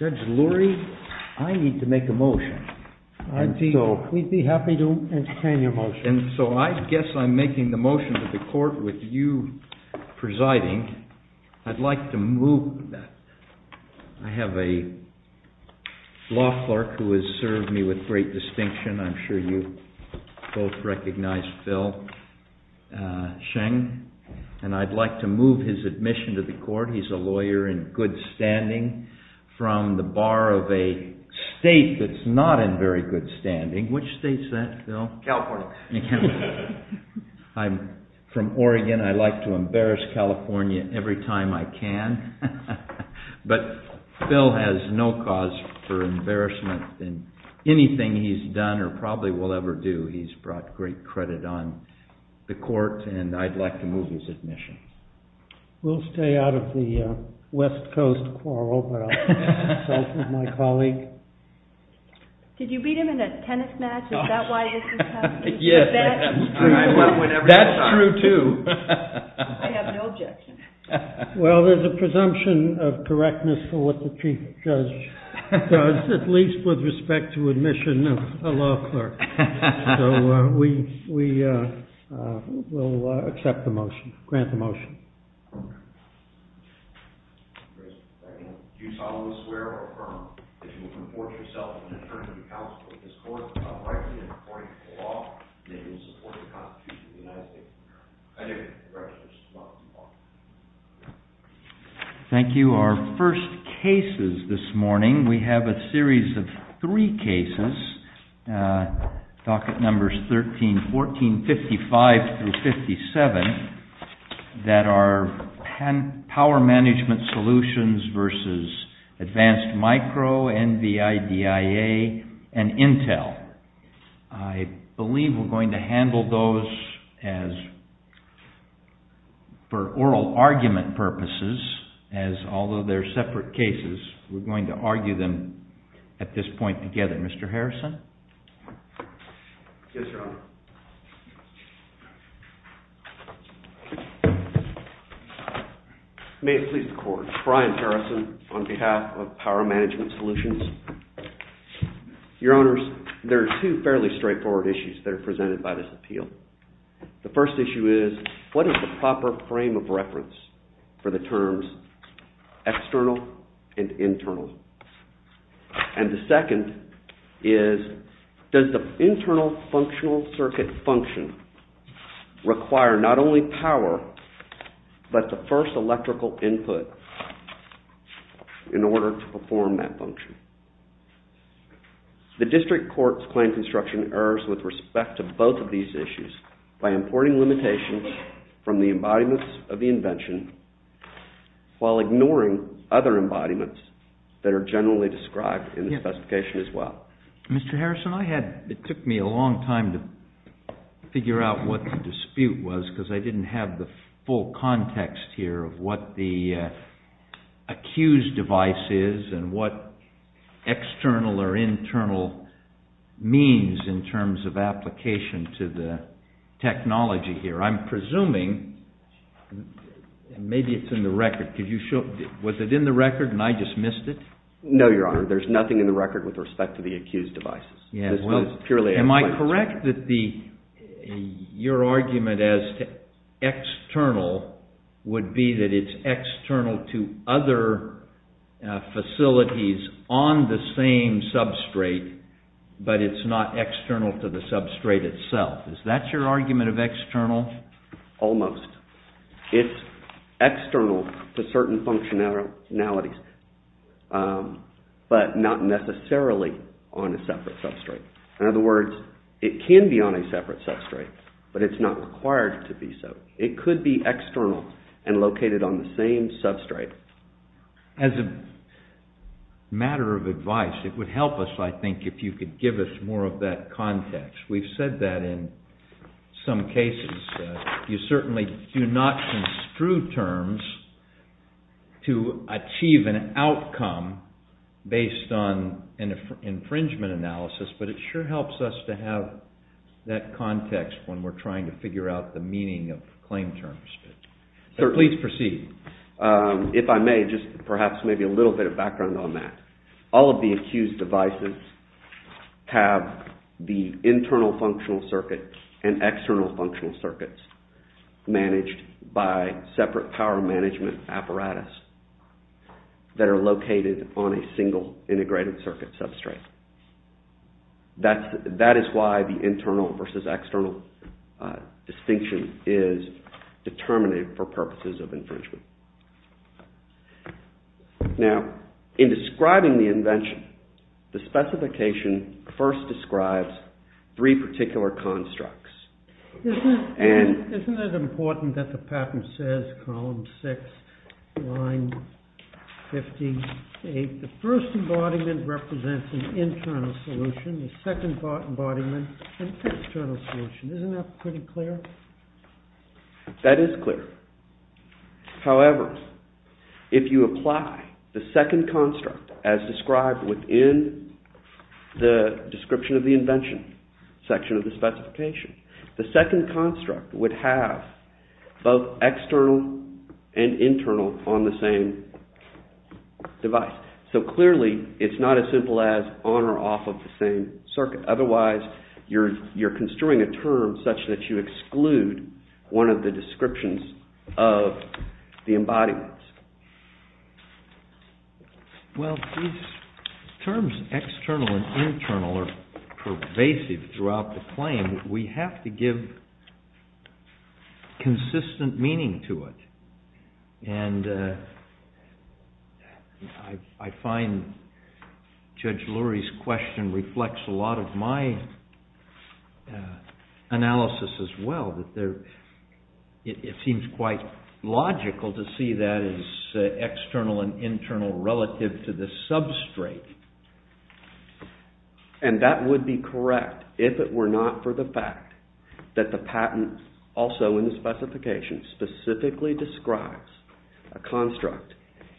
Judge Lurie, I need to make a motion. We'd be happy to entertain your motion. And so I guess I'm making the motion to the court with you presiding. I'd like to move... I have a law clerk who has served me with great distinction. I'm sure you both recognize Phil Sheng. He's a lawyer in good standing from the bar of a state that's not in very good standing. Which state's that, Phil? California. California. I'm from Oregon. I like to embarrass California every time I can. But Phil has no cause for embarrassment in anything he's done or probably will ever do. He's brought great credit on the court, and I'd like to move his admission. We'll stay out of the West Coast quarrel, but I'll consult with my colleague. Did you beat him in a tennis match? Is that why he's in California? Yes, I did. That's true, too. I have no objection. Well, there's a presumption of correctness for what the chief judge does, at least with respect to admission of a law clerk. So we will accept the motion, grant the motion. Thank you. Our first cases this morning, we have a series of three cases. Docket numbers 13, 14, 55 through 57 that are power management solutions versus advanced micro, NVIDIA, and Intel. I believe we're going to handle those as, for oral argument purposes, as although they're separate cases, we're going to argue them at this point together. Mr. Harrison? Yes, Your Honor. May it please the court, Brian Harrison on behalf of Power Management Solutions. Your Honors, there are two fairly straightforward issues that are presented by this appeal. The first issue is, what is the proper frame of reference for the terms external and internal? And the second is, does the internal functional circuit function require not only power, but the first electrical input in order to perform that function? The district courts claim construction errors with respect to both of these issues by importing limitations from the embodiments of the invention while ignoring other embodiments that are generally described in the specification as well. Mr. Harrison, it took me a long time to figure out what the dispute was because I didn't have the full context here of what the accused device is and what external or internal means in terms of application to the technology here. I'm presuming, maybe it's in the record, was it in the record and I just missed it? No, Your Honor, there's nothing in the record with respect to the accused devices. Am I correct that your argument as to external would be that it's external to other facilities on the same substrate, but it's not external to the substrate itself? Is that your argument of external? Almost. It's external to certain functionalities, but not necessarily on a separate substrate. In other words, it can be on a separate substrate, but it's not required to be so. It could be external and located on the same substrate. As a matter of advice, it would help us, I think, if you could give us more of that context. We've said that in some cases. You certainly do not construe terms to achieve an outcome based on an infringement analysis, but it sure helps us to have that context when we're trying to figure out the meaning of claim terms. Please proceed. If I may, just perhaps maybe a little bit of background on that. All of the accused devices have the internal functional circuit and external functional circuits managed by separate power management apparatus that are located on a single integrated circuit substrate. That is why the internal versus external distinction is determined for purposes of infringement. Now, in describing the invention, the specification first describes three particular constructs. Isn't it important that the patent says column 6, line 58, the first embodiment represents an internal solution, the second embodiment an external solution. Isn't that pretty clear? That is clear. However, if you apply the second construct as described within the description of the invention section of the specification, the second construct would have both external and internal on the same device. So clearly, it's not as simple as on or off of the same circuit. Otherwise, you're construing a term such that you exclude one of the descriptions of the embodiments. Well, these terms external and internal are pervasive throughout the claim. We have to give consistent meaning to it. And I find Judge Lurie's question reflects a lot of my analysis as well. It seems quite logical to see that as external and internal relative to the substrate. And that would be correct if it were not for the fact that the patent also in the specification specifically describes a construct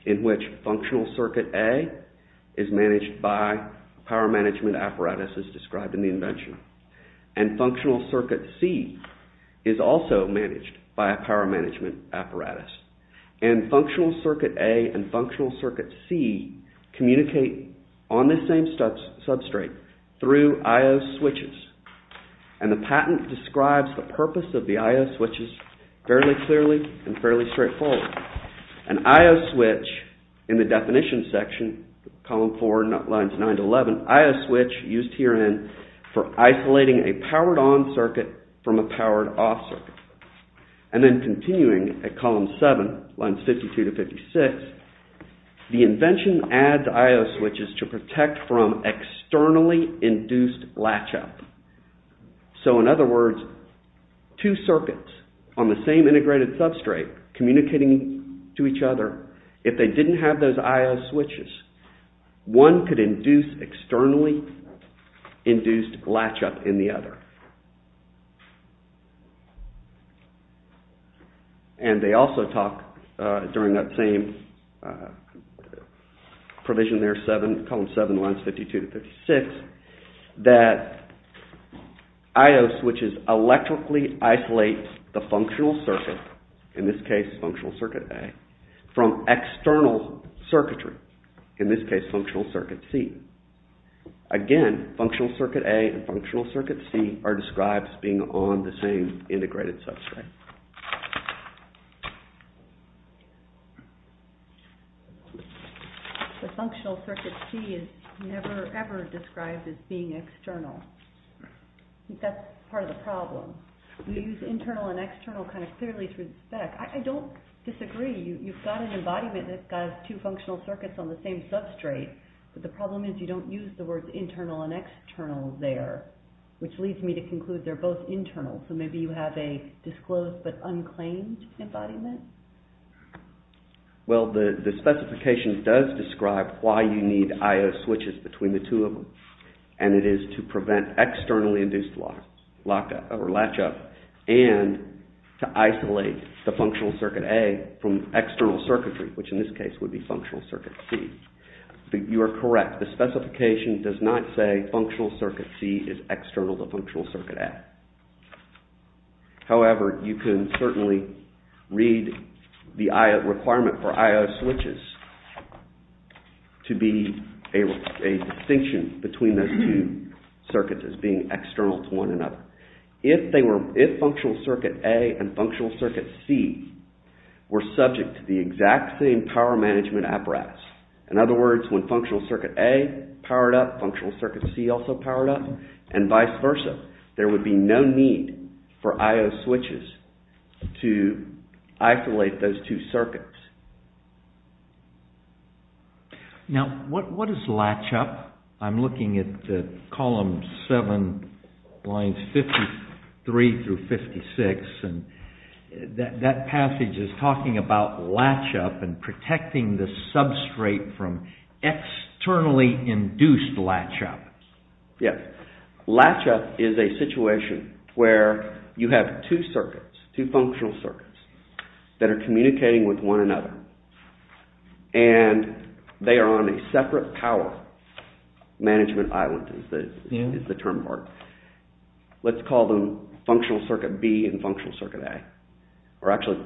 in which functional circuit A is managed by power management apparatus as described in the invention and functional circuit C is also managed by a power management apparatus. And functional circuit A and functional circuit C communicate on the same substrate through I-O switches. And the patent describes the purpose of the I-O switches fairly clearly and fairly straightforward. An I-O switch in the definition section, column 4, lines 9 to 11, I-O switch used herein for isolating a powered on circuit from a powered off circuit. And then continuing at column 7, lines 52 to 56, the invention adds I-O switches to protect from externally induced latch-up. So in other words, two circuits on the same integrated substrate communicating to each other, if they didn't have those I-O switches, one could induce externally induced latch-up in the other. And they also talk during that same provision there, column 7, lines 52 to 56, that I-O switches electrically isolate the functional circuit, in this case functional circuit A, from external circuitry, in this case functional circuit C. Again, functional circuit A and functional circuit C are described as being on the same integrated substrate. The functional circuit C is never ever described as being external. That's part of the problem. We use internal and external kind of clearly through the spec. I don't disagree. You've got an embodiment that's got two functional circuits on the same substrate. But the problem is you don't use the words internal and external there, which leads me to conclude they're both internal. So maybe you have a disclosed but unclaimed embodiment? Well, the specification does describe why you need I-O switches between the two of them. And it is to prevent externally induced latch-up, and to isolate the functional circuit A from external circuitry, which in this case would be functional circuit C. You are correct. The specification does not say functional circuit C is external to functional circuit A. However, you can certainly read the I-O requirement for I-O switches to be a distinction between those two circuits as being external to one another. If functional circuit A and functional circuit C were subject to the exact same power management apparatus in other words, when functional circuit A powered up, functional circuit C also powered up, and vice versa, there would be no need for I-O switches to isolate those two circuits. Now, what is latch-up? I'm looking at column 7, lines 53 through 56, and that passage is talking about latch-up and protecting the substrate from externally induced latch-up. Yes. Latch-up is a situation where you have two circuits, two functional circuits that are communicating with one another, and they are on a separate power management island is the term for it. Let's call them functional circuit B and functional circuit A, or actually,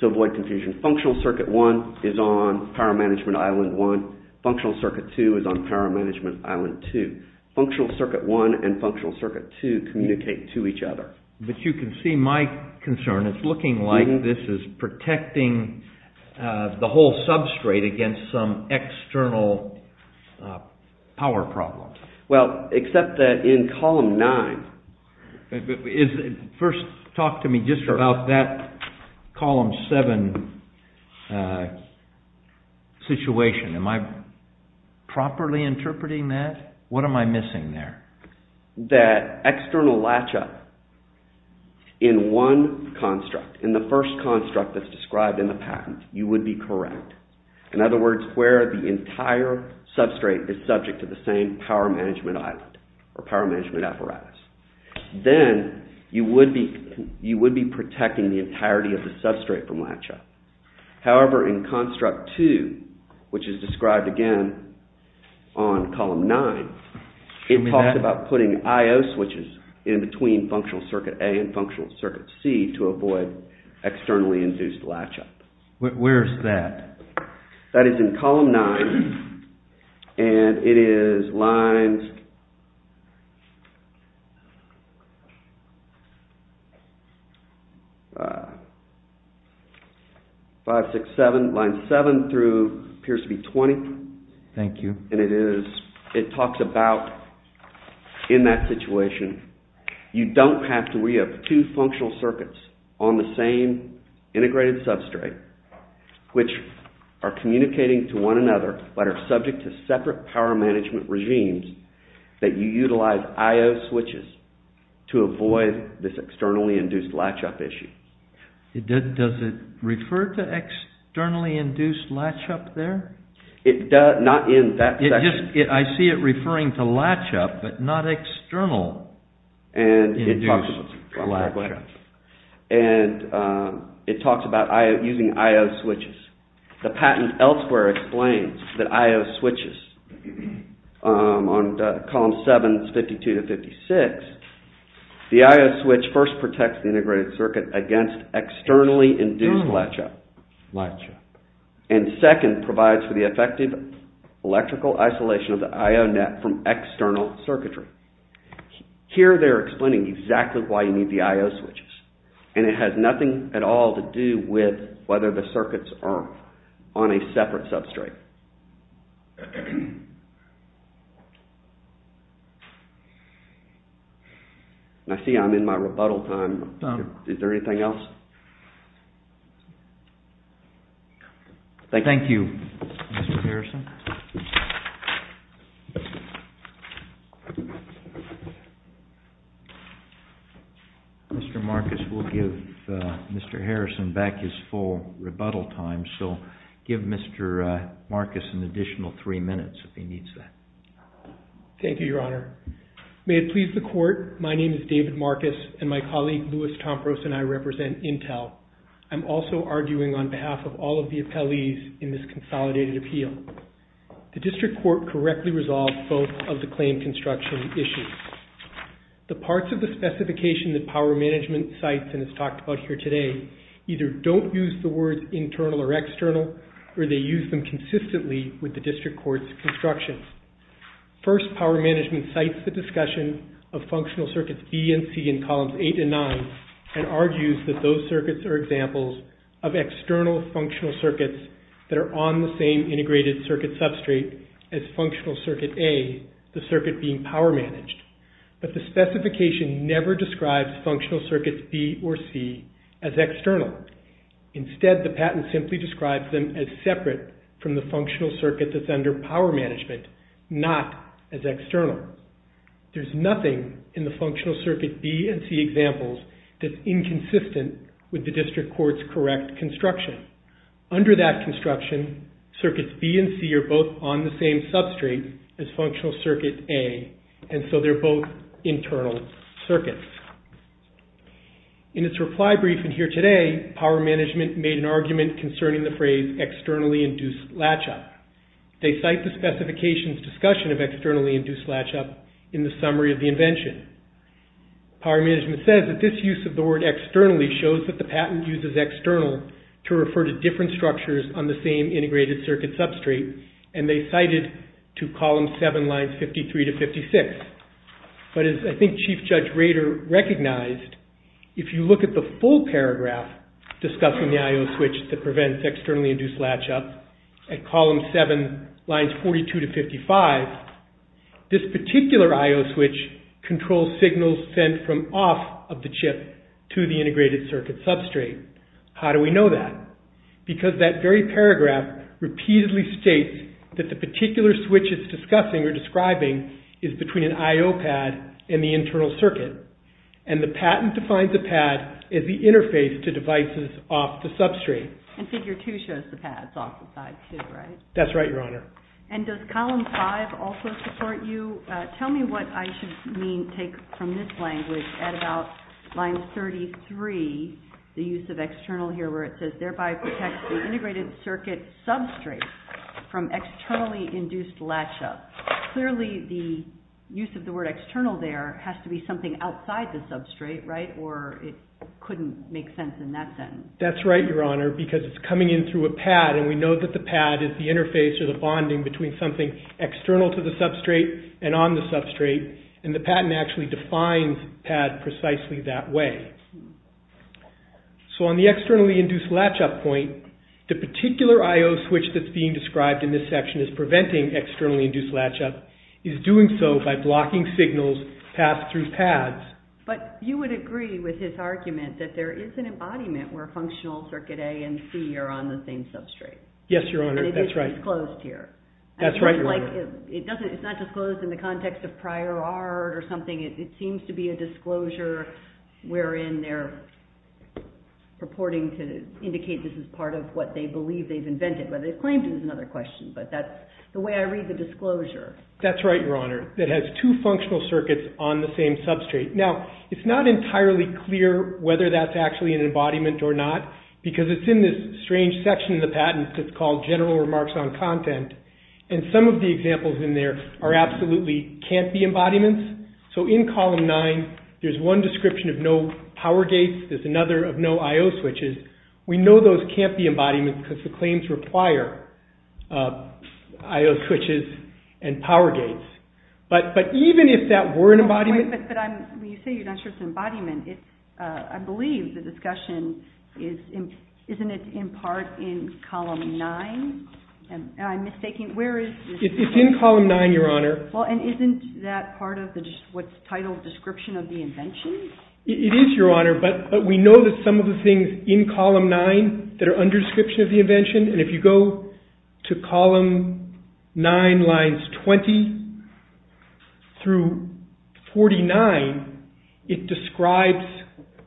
to avoid confusion, functional circuit 1 is on power management island 1, functional circuit 2 is on power management island 2. Functional circuit 1 and functional circuit 2 communicate to each other. But you can see my concern. It's looking like this is protecting the whole substrate against some external power problem. Well, except that in column 9... First, talk to me just about that column 7 situation. Am I properly interpreting that? What am I missing there? That external latch-up in one construct, in the first construct that's described in the patent, you would be correct. In other words, where the entire substrate is subject to the same power management island or power management apparatus. Then, you would be protecting the entirety of the substrate from latch-up. However, in construct 2, which is described again on column 9, it talks about putting IO switches in between functional circuit A and functional circuit C to avoid externally induced latch-up. Where's that? That is in column 9, and it is lines... 5, 6, 7, line 7 through, appears to be 20. Thank you. And it is, it talks about, in that situation, you don't have to re-up two functional circuits on the same integrated substrate, which are communicating to one another, but are subject to separate power management regimes that you utilize IO switches to avoid this externally induced latch-up issue. Does it refer to externally induced latch-up there? It does, not in that section. I see it referring to latch-up, but not external induced latch-up. And it talks about using IO switches. The patent elsewhere explains that IO switches, on column 7, 52 to 56, the IO switch first protects the integrated circuit against externally induced latch-up. And second, provides for the effective electrical isolation of the IO net from external circuitry. Here they're explaining exactly why you need the IO switches. And it has nothing at all to do with whether the circuits are on a separate substrate. I see I'm in my rebuttal time. Is there anything else? Thank you, Mr. Harrison. Mr. Marcus will give Mr. Harrison back his full rebuttal time, so give Mr. Marcus an additional three minutes if he needs that. Thank you, Your Honor. May it please the Court, my name is David Marcus, and my colleague, Louis Tompros, and I represent Intel. I'm also arguing on behalf of all of the appellees in this consolidated appeal. The District Court correctly resolved both of the claim construction issues. The parts of the specification that Power Management cites and has talked about here today either don't use the words internal or external, or they use them consistently with the District Court's construction. First, Power Management cites the discussion of functional circuits B and C in columns 8 and 9, and argues that those circuits are examples of external functional circuits that are on the same integrated circuit substrate as functional circuit A, the circuit being Power Managed. But the specification never describes functional circuits B or C as external. Instead, the patent simply describes them as separate from the functional circuit that's under Power Management, not as external. There's nothing in the functional circuit B and C examples that's inconsistent with the District Court's correct construction. Under that construction, circuits B and C are both on the same substrate as functional circuit A, and so they're both internal circuits. In its reply brief in here today, Power Management made an argument concerning the phrase externally induced latch-up. They cite the specification's discussion of externally induced latch-up in the summary of the invention. Power Management says that this use of the word externally shows that the patent uses external to refer to different structures on the same integrated circuit substrate, and they cite it to column 7, lines 53 to 56. But as I think Chief Judge Rader recognized, if you look at the full paragraph discussing the I.O. switch that prevents externally induced latch-up at column 7, lines 42 to 55, this particular I.O. switch controls signals sent from off of the chip to the integrated circuit substrate. How do we know that? Because that very paragraph repeatedly states that the particular switch it's discussing or describing is between an I.O. pad and the internal circuit, and the patent defines the pad as the interface to devices off the substrate. And figure 2 shows the pads off the side too, right? That's right, Your Honor. And does column 5 also support you? Tell me what I should take from this language at about line 33, the use of external here where it says, thereby protects the integrated circuit substrate from externally induced latch-up. Clearly the use of the word external there has to be something outside the substrate, right? Or it couldn't make sense in that sentence. That's right, Your Honor, because it's coming in through a pad, and we know that the pad is the interface or the bonding between something external to the substrate and on the substrate, and the patent actually defines pad precisely that way. So on the externally induced latch-up point, the particular I.O. switch that's being described in this section as preventing externally induced latch-up is doing so by blocking signals passed through pads. But you would agree with his argument that there is an embodiment where functional circuit A and C are on the same substrate. Yes, Your Honor, that's right. And it is disclosed here. That's right, Your Honor. It's not disclosed in the context of prior art or something. It seems to be a disclosure wherein they're purporting to indicate this is part of what they believe they've invented, but they've claimed it is another question. But that's the way I read the disclosure. That's right, Your Honor. It has two functional circuits on the same substrate. Now, it's not entirely clear whether that's actually an embodiment or not because it's in this strange section of the patent that's called General Remarks on Content, and some of the examples in there are absolutely can't-be embodiments. So in Column 9, there's one description of no power gates. There's another of no I.O. switches. We know those can't-be embodiments because the claims require I.O. switches and power gates. But even if that were an embodiment. But when you say you're not sure it's an embodiment, I believe the discussion isn't it in part in Column 9? Am I mistaking? It's in Column 9, Your Honor. Well, and isn't that part of what's titled Description of the Invention? It is, Your Honor. But we know that some of the things in Column 9 that are under Description of the Invention, and if you go to Column 9, Lines 20 through 49, it describes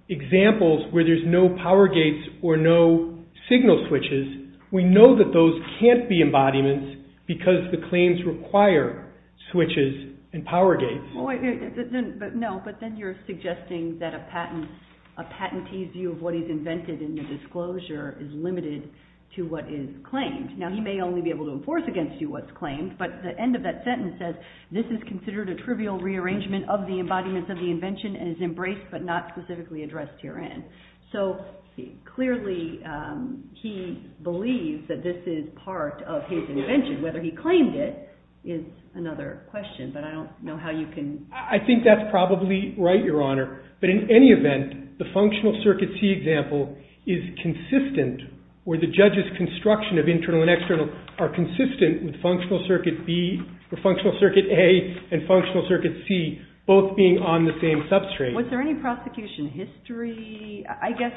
examples where there's no power gates or no signal switches. We know that those can't-be embodiments because the claims require switches and power gates. No, but then you're suggesting that a patentee's view of what he's invented in the disclosure is limited to what is claimed. Now, he may only be able to enforce against you what's claimed, but the end of that sentence says, This is considered a trivial rearrangement of the embodiments of the invention and is embraced but not specifically addressed herein. So clearly he believes that this is part of his invention. Whether he claimed it is another question, but I don't know how you can- I think that's probably right, Your Honor. But in any event, the Functional Circuit C example is consistent where the judge's construction of internal and external are consistent with Functional Circuit A and Functional Circuit C both being on the same substrate. Was there any prosecution history, I guess,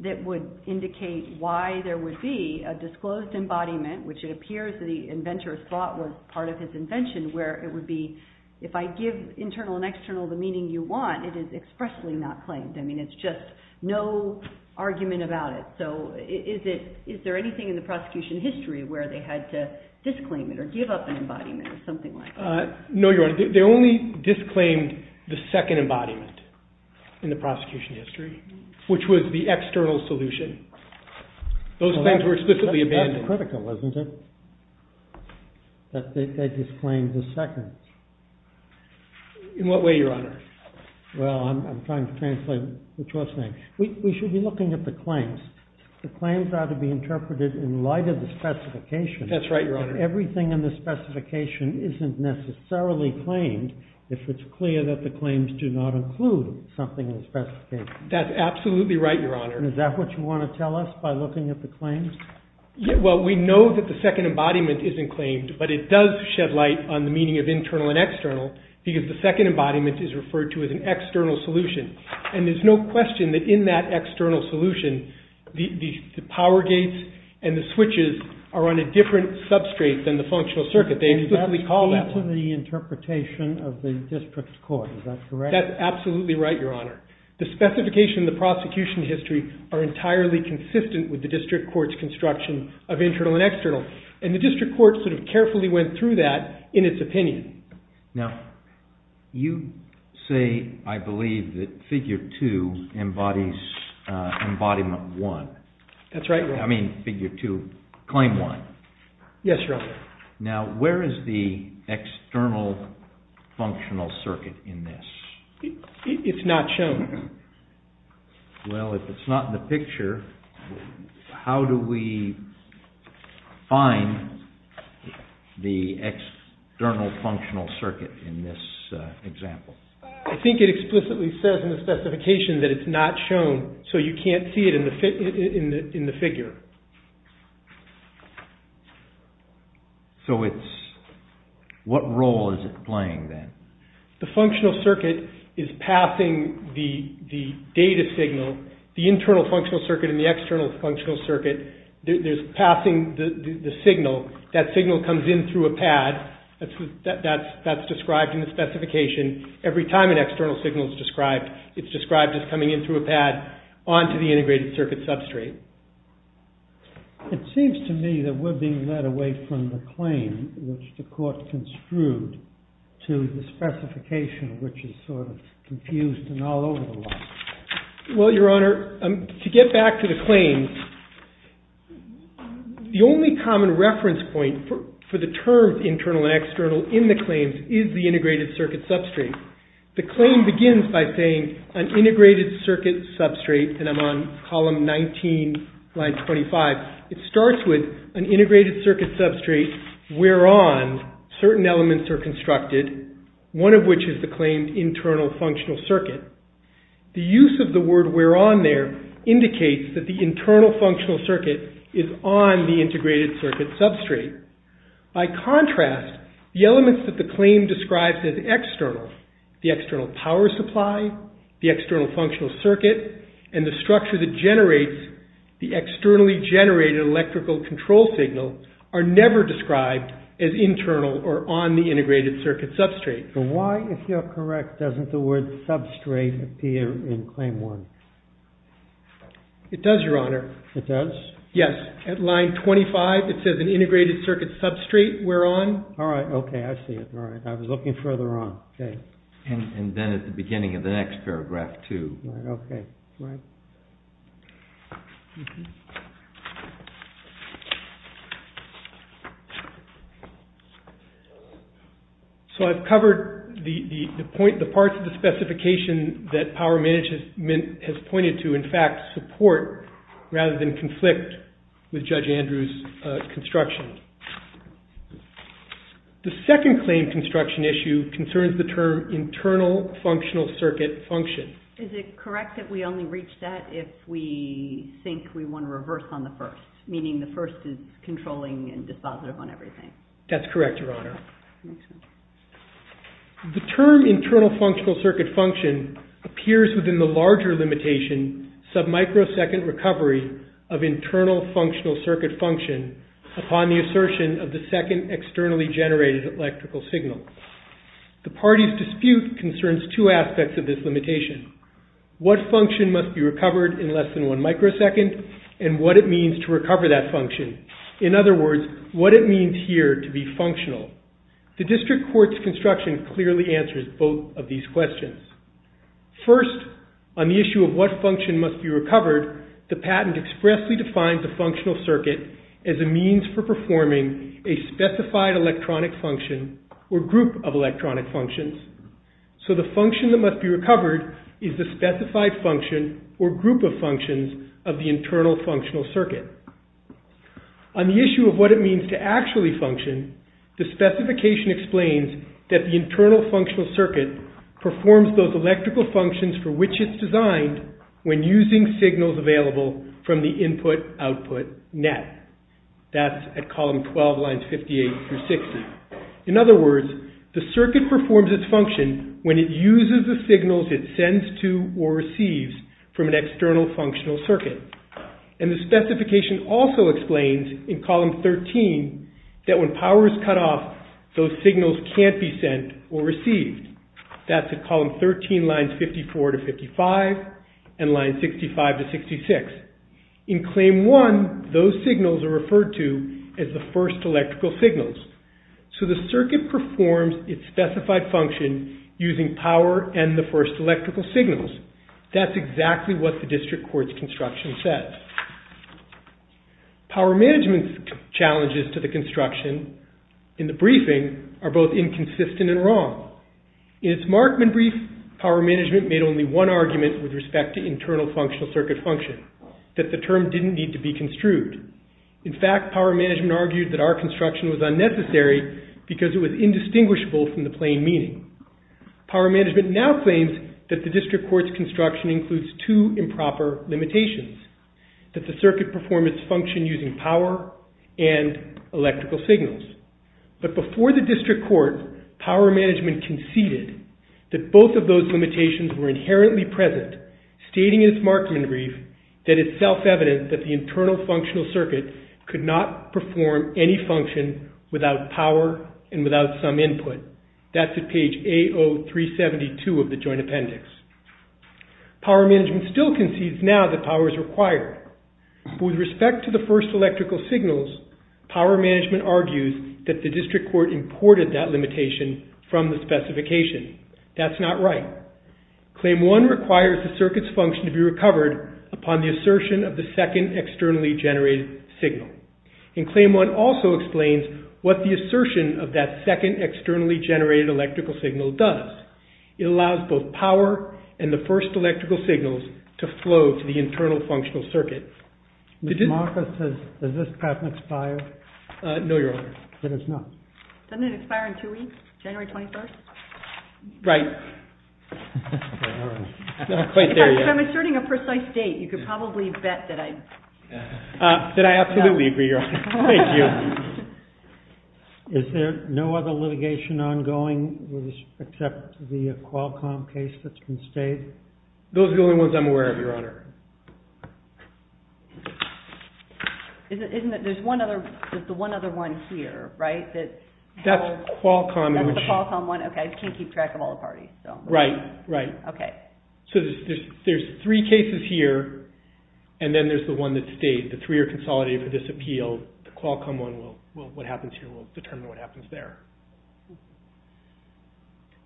that would indicate why there would be a disclosed embodiment, which it appears that the inventor thought was part of his invention, where it would be if I give internal and external the meaning you want, it is expressly not claimed. I mean, it's just no argument about it. So is there anything in the prosecution history where they had to disclaim it or give up an embodiment or something like that? No, Your Honor. They only disclaimed the second embodiment in the prosecution history, which was the external solution. Those claims were explicitly abandoned. That's critical, isn't it? They just claimed the second. In what way, Your Honor? Well, I'm trying to translate what you're saying. We should be looking at the claims. The claims are to be interpreted in light of the specification. That's right, Your Honor. Everything in the specification isn't necessarily claimed if it's clear that the claims do not include something in the specification. That's absolutely right, Your Honor. Is that what you want to tell us by looking at the claims? Well, we know that the second embodiment isn't claimed, but it does shed light on the meaning of internal and external because the second embodiment is referred to as an external solution. And there's no question that in that external solution, the power gates and the switches are on a different substrate than the functional circuit. They explicitly call that one. That's in the interpretation of the district court. Is that correct? That's absolutely right, Your Honor. The specification in the prosecution history are entirely consistent with the district court's construction of internal and external. And the district court sort of carefully went through that in its opinion. Now, you say, I believe, that Figure 2 embodies Embodiment 1. That's right, Your Honor. I mean, Figure 2, Claim 1. Yes, Your Honor. Now, where is the external functional circuit in this? It's not shown. Well, if it's not in the picture, how do we find the external functional circuit in this example? I think it explicitly says in the specification that it's not shown, so you can't see it in the figure. So, what role is it playing then? The functional circuit is passing the data signal. The internal functional circuit and the external functional circuit, there's passing the signal. That signal comes in through a pad. That's described in the specification. Every time an external signal is described, it's described as coming in through a pad onto the integrated circuit substrate. It seems to me that we're being led away from the claim which the court construed to the specification which is sort of confused and all over the place. Well, Your Honor, to get back to the claims, the only common reference point for the terms internal and external in the claims is the integrated circuit substrate. The claim begins by saying an integrated circuit substrate, and I'm on column 19, line 25. It starts with an integrated circuit substrate whereon certain elements are constructed, one of which is the claim internal functional circuit. The use of the word whereon there indicates that the internal functional circuit is on the integrated circuit substrate. By contrast, the elements that the claim describes as external, the external power supply, the external functional circuit, and the structure that generates the externally generated electrical control signal are never described as internal or on the integrated circuit substrate. So why, if you're correct, doesn't the word substrate appear in Claim 1? It does, Your Honor. It does? Yes. At line 25, it says an integrated circuit substrate whereon. All right. Okay, I see it. All right. I was looking further on. Okay. And then at the beginning of the next paragraph, too. Okay. Right. Mm-hmm. So I've covered the parts of the specification that Power Management has pointed to, in fact, support, rather than conflict, with Judge Andrew's construction. The second claim construction issue concerns the term internal functional circuit function. Is it correct that we only reach that if we think we want to reverse on the first, meaning the first is controlling and dispositive on everything? That's correct, Your Honor. Excellent. The term internal functional circuit function appears within the larger limitation, submicrosecond recovery of internal functional circuit function upon the assertion of the second externally generated electrical signal. The party's dispute concerns two aspects of this limitation. What function must be recovered in less than one microsecond and what it means to recover that function. In other words, what it means here to be functional. The district court's construction clearly answers both of these questions. First, on the issue of what function must be recovered, the patent expressly defines a functional circuit as a means for performing a specified electronic function or group of electronic functions. So the function that must be recovered is the specified function or group of functions of the internal functional circuit. On the issue of what it means to actually function, the specification explains that the internal functional circuit performs those electrical functions for which it's designed when using signals available from the input-output net. That's at column 12, lines 58 through 60. In other words, the circuit performs its function when it uses the signals it sends to or receives from an external functional circuit. And the specification also explains in column 13 that when power is cut off, those signals can't be sent or received. That's at column 13, lines 54 to 55 and line 65 to 66. In claim 1, those signals are referred to as the first electrical signals. So the circuit performs its specified function using power and the first electrical signals. That's exactly what the district court's construction says. Power management's challenges to the construction in the briefing are both inconsistent and wrong. In its Markman brief, power management made only one argument with respect to internal functional circuit function, that the term didn't need to be construed. In fact, power management argued that our construction was unnecessary because it was indistinguishable from the plain meaning. Power management now claims that the district court's construction includes two improper limitations, that the circuit performs its function using power and electrical signals. But before the district court, power management conceded that both of those limitations were inherently present, stating in its Markman brief that it's self-evident that the internal functional circuit could not perform any function without power and without some input. That's at page A0372 of the joint appendix. Power management still concedes now that power is required. But with respect to the first electrical signals, power management argues that the district court imported that limitation from the specification. That's not right. Claim 1 requires the circuit's function to be recovered upon the assertion of the second externally generated signal. And Claim 1 also explains what the assertion of that second externally generated electrical signal does. It allows both power and the first electrical signals to flow to the internal functional circuit. Ms. Marcus, does this patent expire? No, Your Honor. Then it's not. Doesn't it expire in two weeks, January 21st? Right. Not quite there yet. If I'm asserting a precise date, you could probably bet that I... That I absolutely agree, Your Honor. Thank you. Is there no other litigation ongoing except the Qualcomm case that's been stated? Those are the only ones I'm aware of, Your Honor. Isn't it that there's the one other one here, right? That's Qualcomm. That's the Qualcomm one. Okay, I can't keep track of all the parties. Right, right. Okay. So there's three cases here, and then there's the one that stayed. The three are consolidated for this appeal. The Qualcomm one will... What happens here will determine what happens there.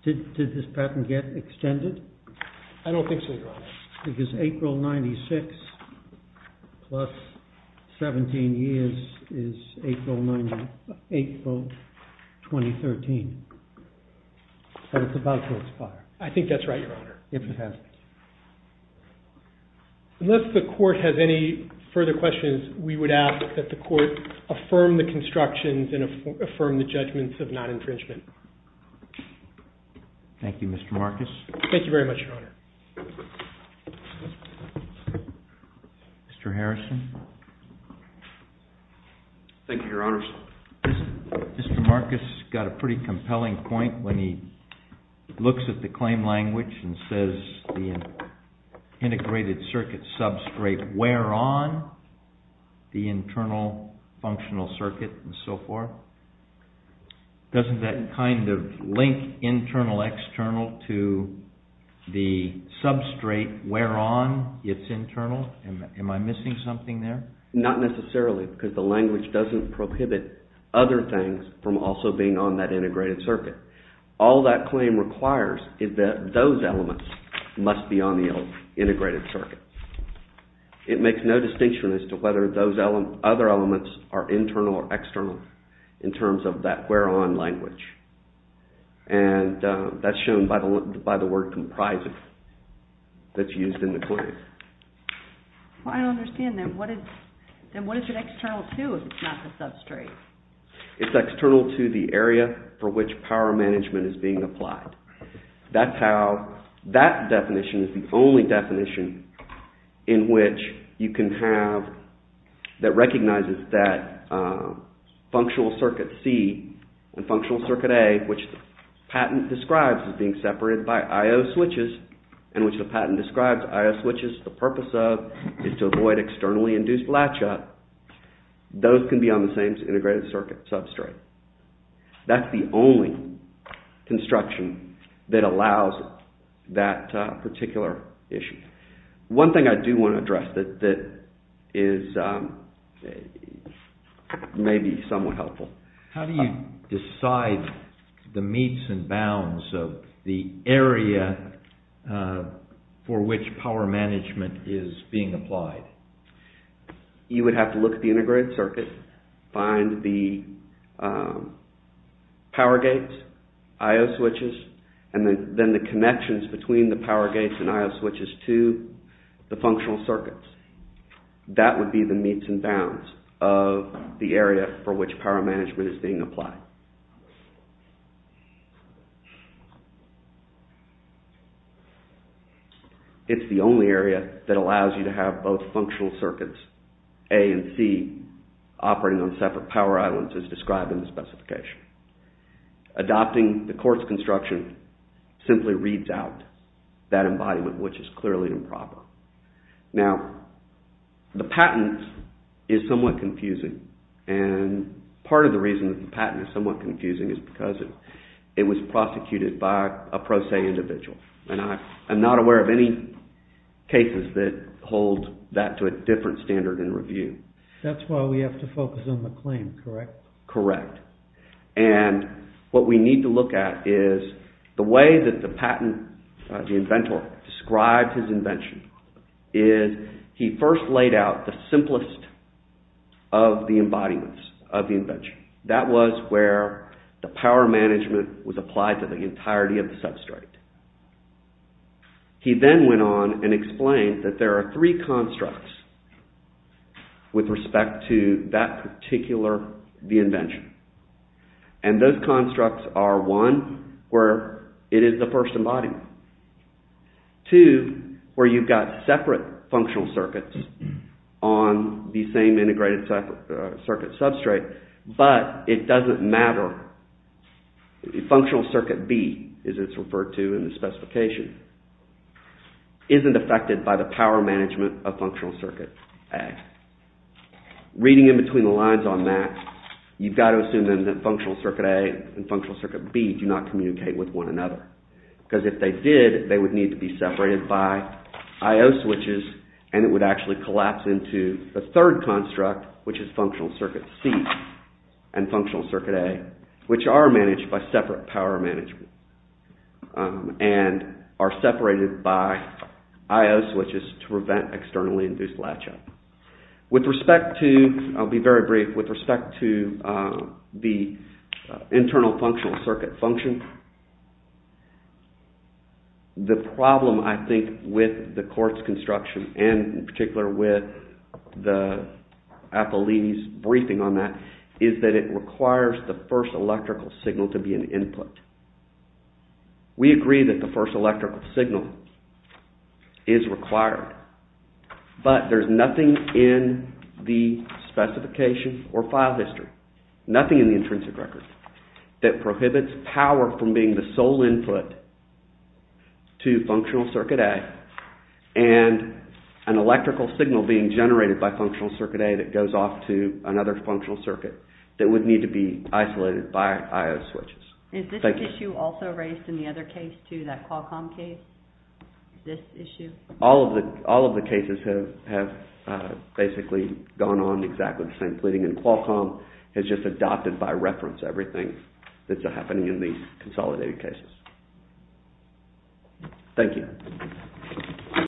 Did this patent get extended? I don't think so, Your Honor. Because April 96 plus 17 years is April 2013. So it's about to expire. I think that's right, Your Honor. If it has to. Unless the court has any further questions, we would ask that the court affirm the constructions and affirm the judgments of non-infringement. Thank you, Mr. Marcus. Thank you very much, Your Honor. Mr. Harrison. Thank you, Your Honor. Mr. Marcus got a pretty compelling point when he looks at the claim language and says the integrated circuit substrate where on the internal functional circuit and so forth. Doesn't that kind of link internal external to the substrate where on it's internal? Am I missing something there? Not necessarily because the language doesn't prohibit other things from also being on that integrated circuit. All that claim requires is that those elements must be on the integrated circuit. It makes no distinction as to whether those other elements are internal or external in terms of that where on language. And that's shown by the word comprising that's used in the claim. I don't understand then. What is it external to if it's not the substrate? It's external to the area for which power management is being applied. That's how that definition is the only definition in which you can have that recognizes that functional circuit C and functional circuit A which the patent describes as being separated by I.O. switches and which the patent describes I.O. switches the purpose of is to avoid externally induced latch up. Those can be on the same integrated circuit substrate. That's the only construction that allows that particular issue. One thing I do want to address that is maybe somewhat helpful. How do you decide the meets and bounds of the area for which power management is being applied? You would have to look at the integrated circuit. Find the power gates, I.O. switches and then the connections between the power gates and I.O. switches to the functional circuits. That would be the meets and bounds of the area for which power management is being applied. It's the only area that allows you to have both functional circuits A and C operating on separate power islands as described in the specification. Adopting the course construction simply reads out that embodiment which is clearly improper. Now, the patent is somewhat confusing and part of the reason the patent is somewhat confusing is because it was prosecuted by a pro se individual. I'm not aware of any cases that hold that to a different standard in review. That's why we have to focus on the claim, correct? Correct. And what we need to look at is the way that the patent, the inventor described his invention is he first laid out the simplest of the embodiments of the invention. That was where the power management was applied to the entirety of the substrate. He then went on and explained that there are three constructs with respect to that particular invention. And those constructs are one, where it is the first embodiment. Two, where you've got separate functional circuits on the same integrated circuit substrate but it doesn't matter. Functional circuit B, as it's referred to in the specification, isn't affected by the power management of functional circuit A. Reading in between the lines on that, you've got to assume then that functional circuit A and functional circuit B do not communicate with one another. Because if they did, they would need to be separated by I.O. switches and it would actually collapse into the third construct which is functional circuit C and functional circuit A, which are managed by separate power management and are separated by I.O. switches to prevent externally induced latch-up. With respect to, I'll be very brief, with respect to the internal functional circuit function, the problem, I think, with the quartz construction and in particular with Apollini's briefing on that, is that it requires the first electrical signal to be an input. We agree that the first electrical signal is required but there's nothing in the specification or file history, nothing in the intrinsic record, that prohibits power from being the sole input to functional circuit A and an electrical signal being generated by functional circuit A that goes off to another functional circuit that would need to be isolated by I.O. switches. Is this issue also raised in the other case too, that Qualcomm case? This issue? All of the cases have basically gone on exactly the same pleading and Qualcomm has just adopted by reference everything that's happening in these consolidated cases. Thank you.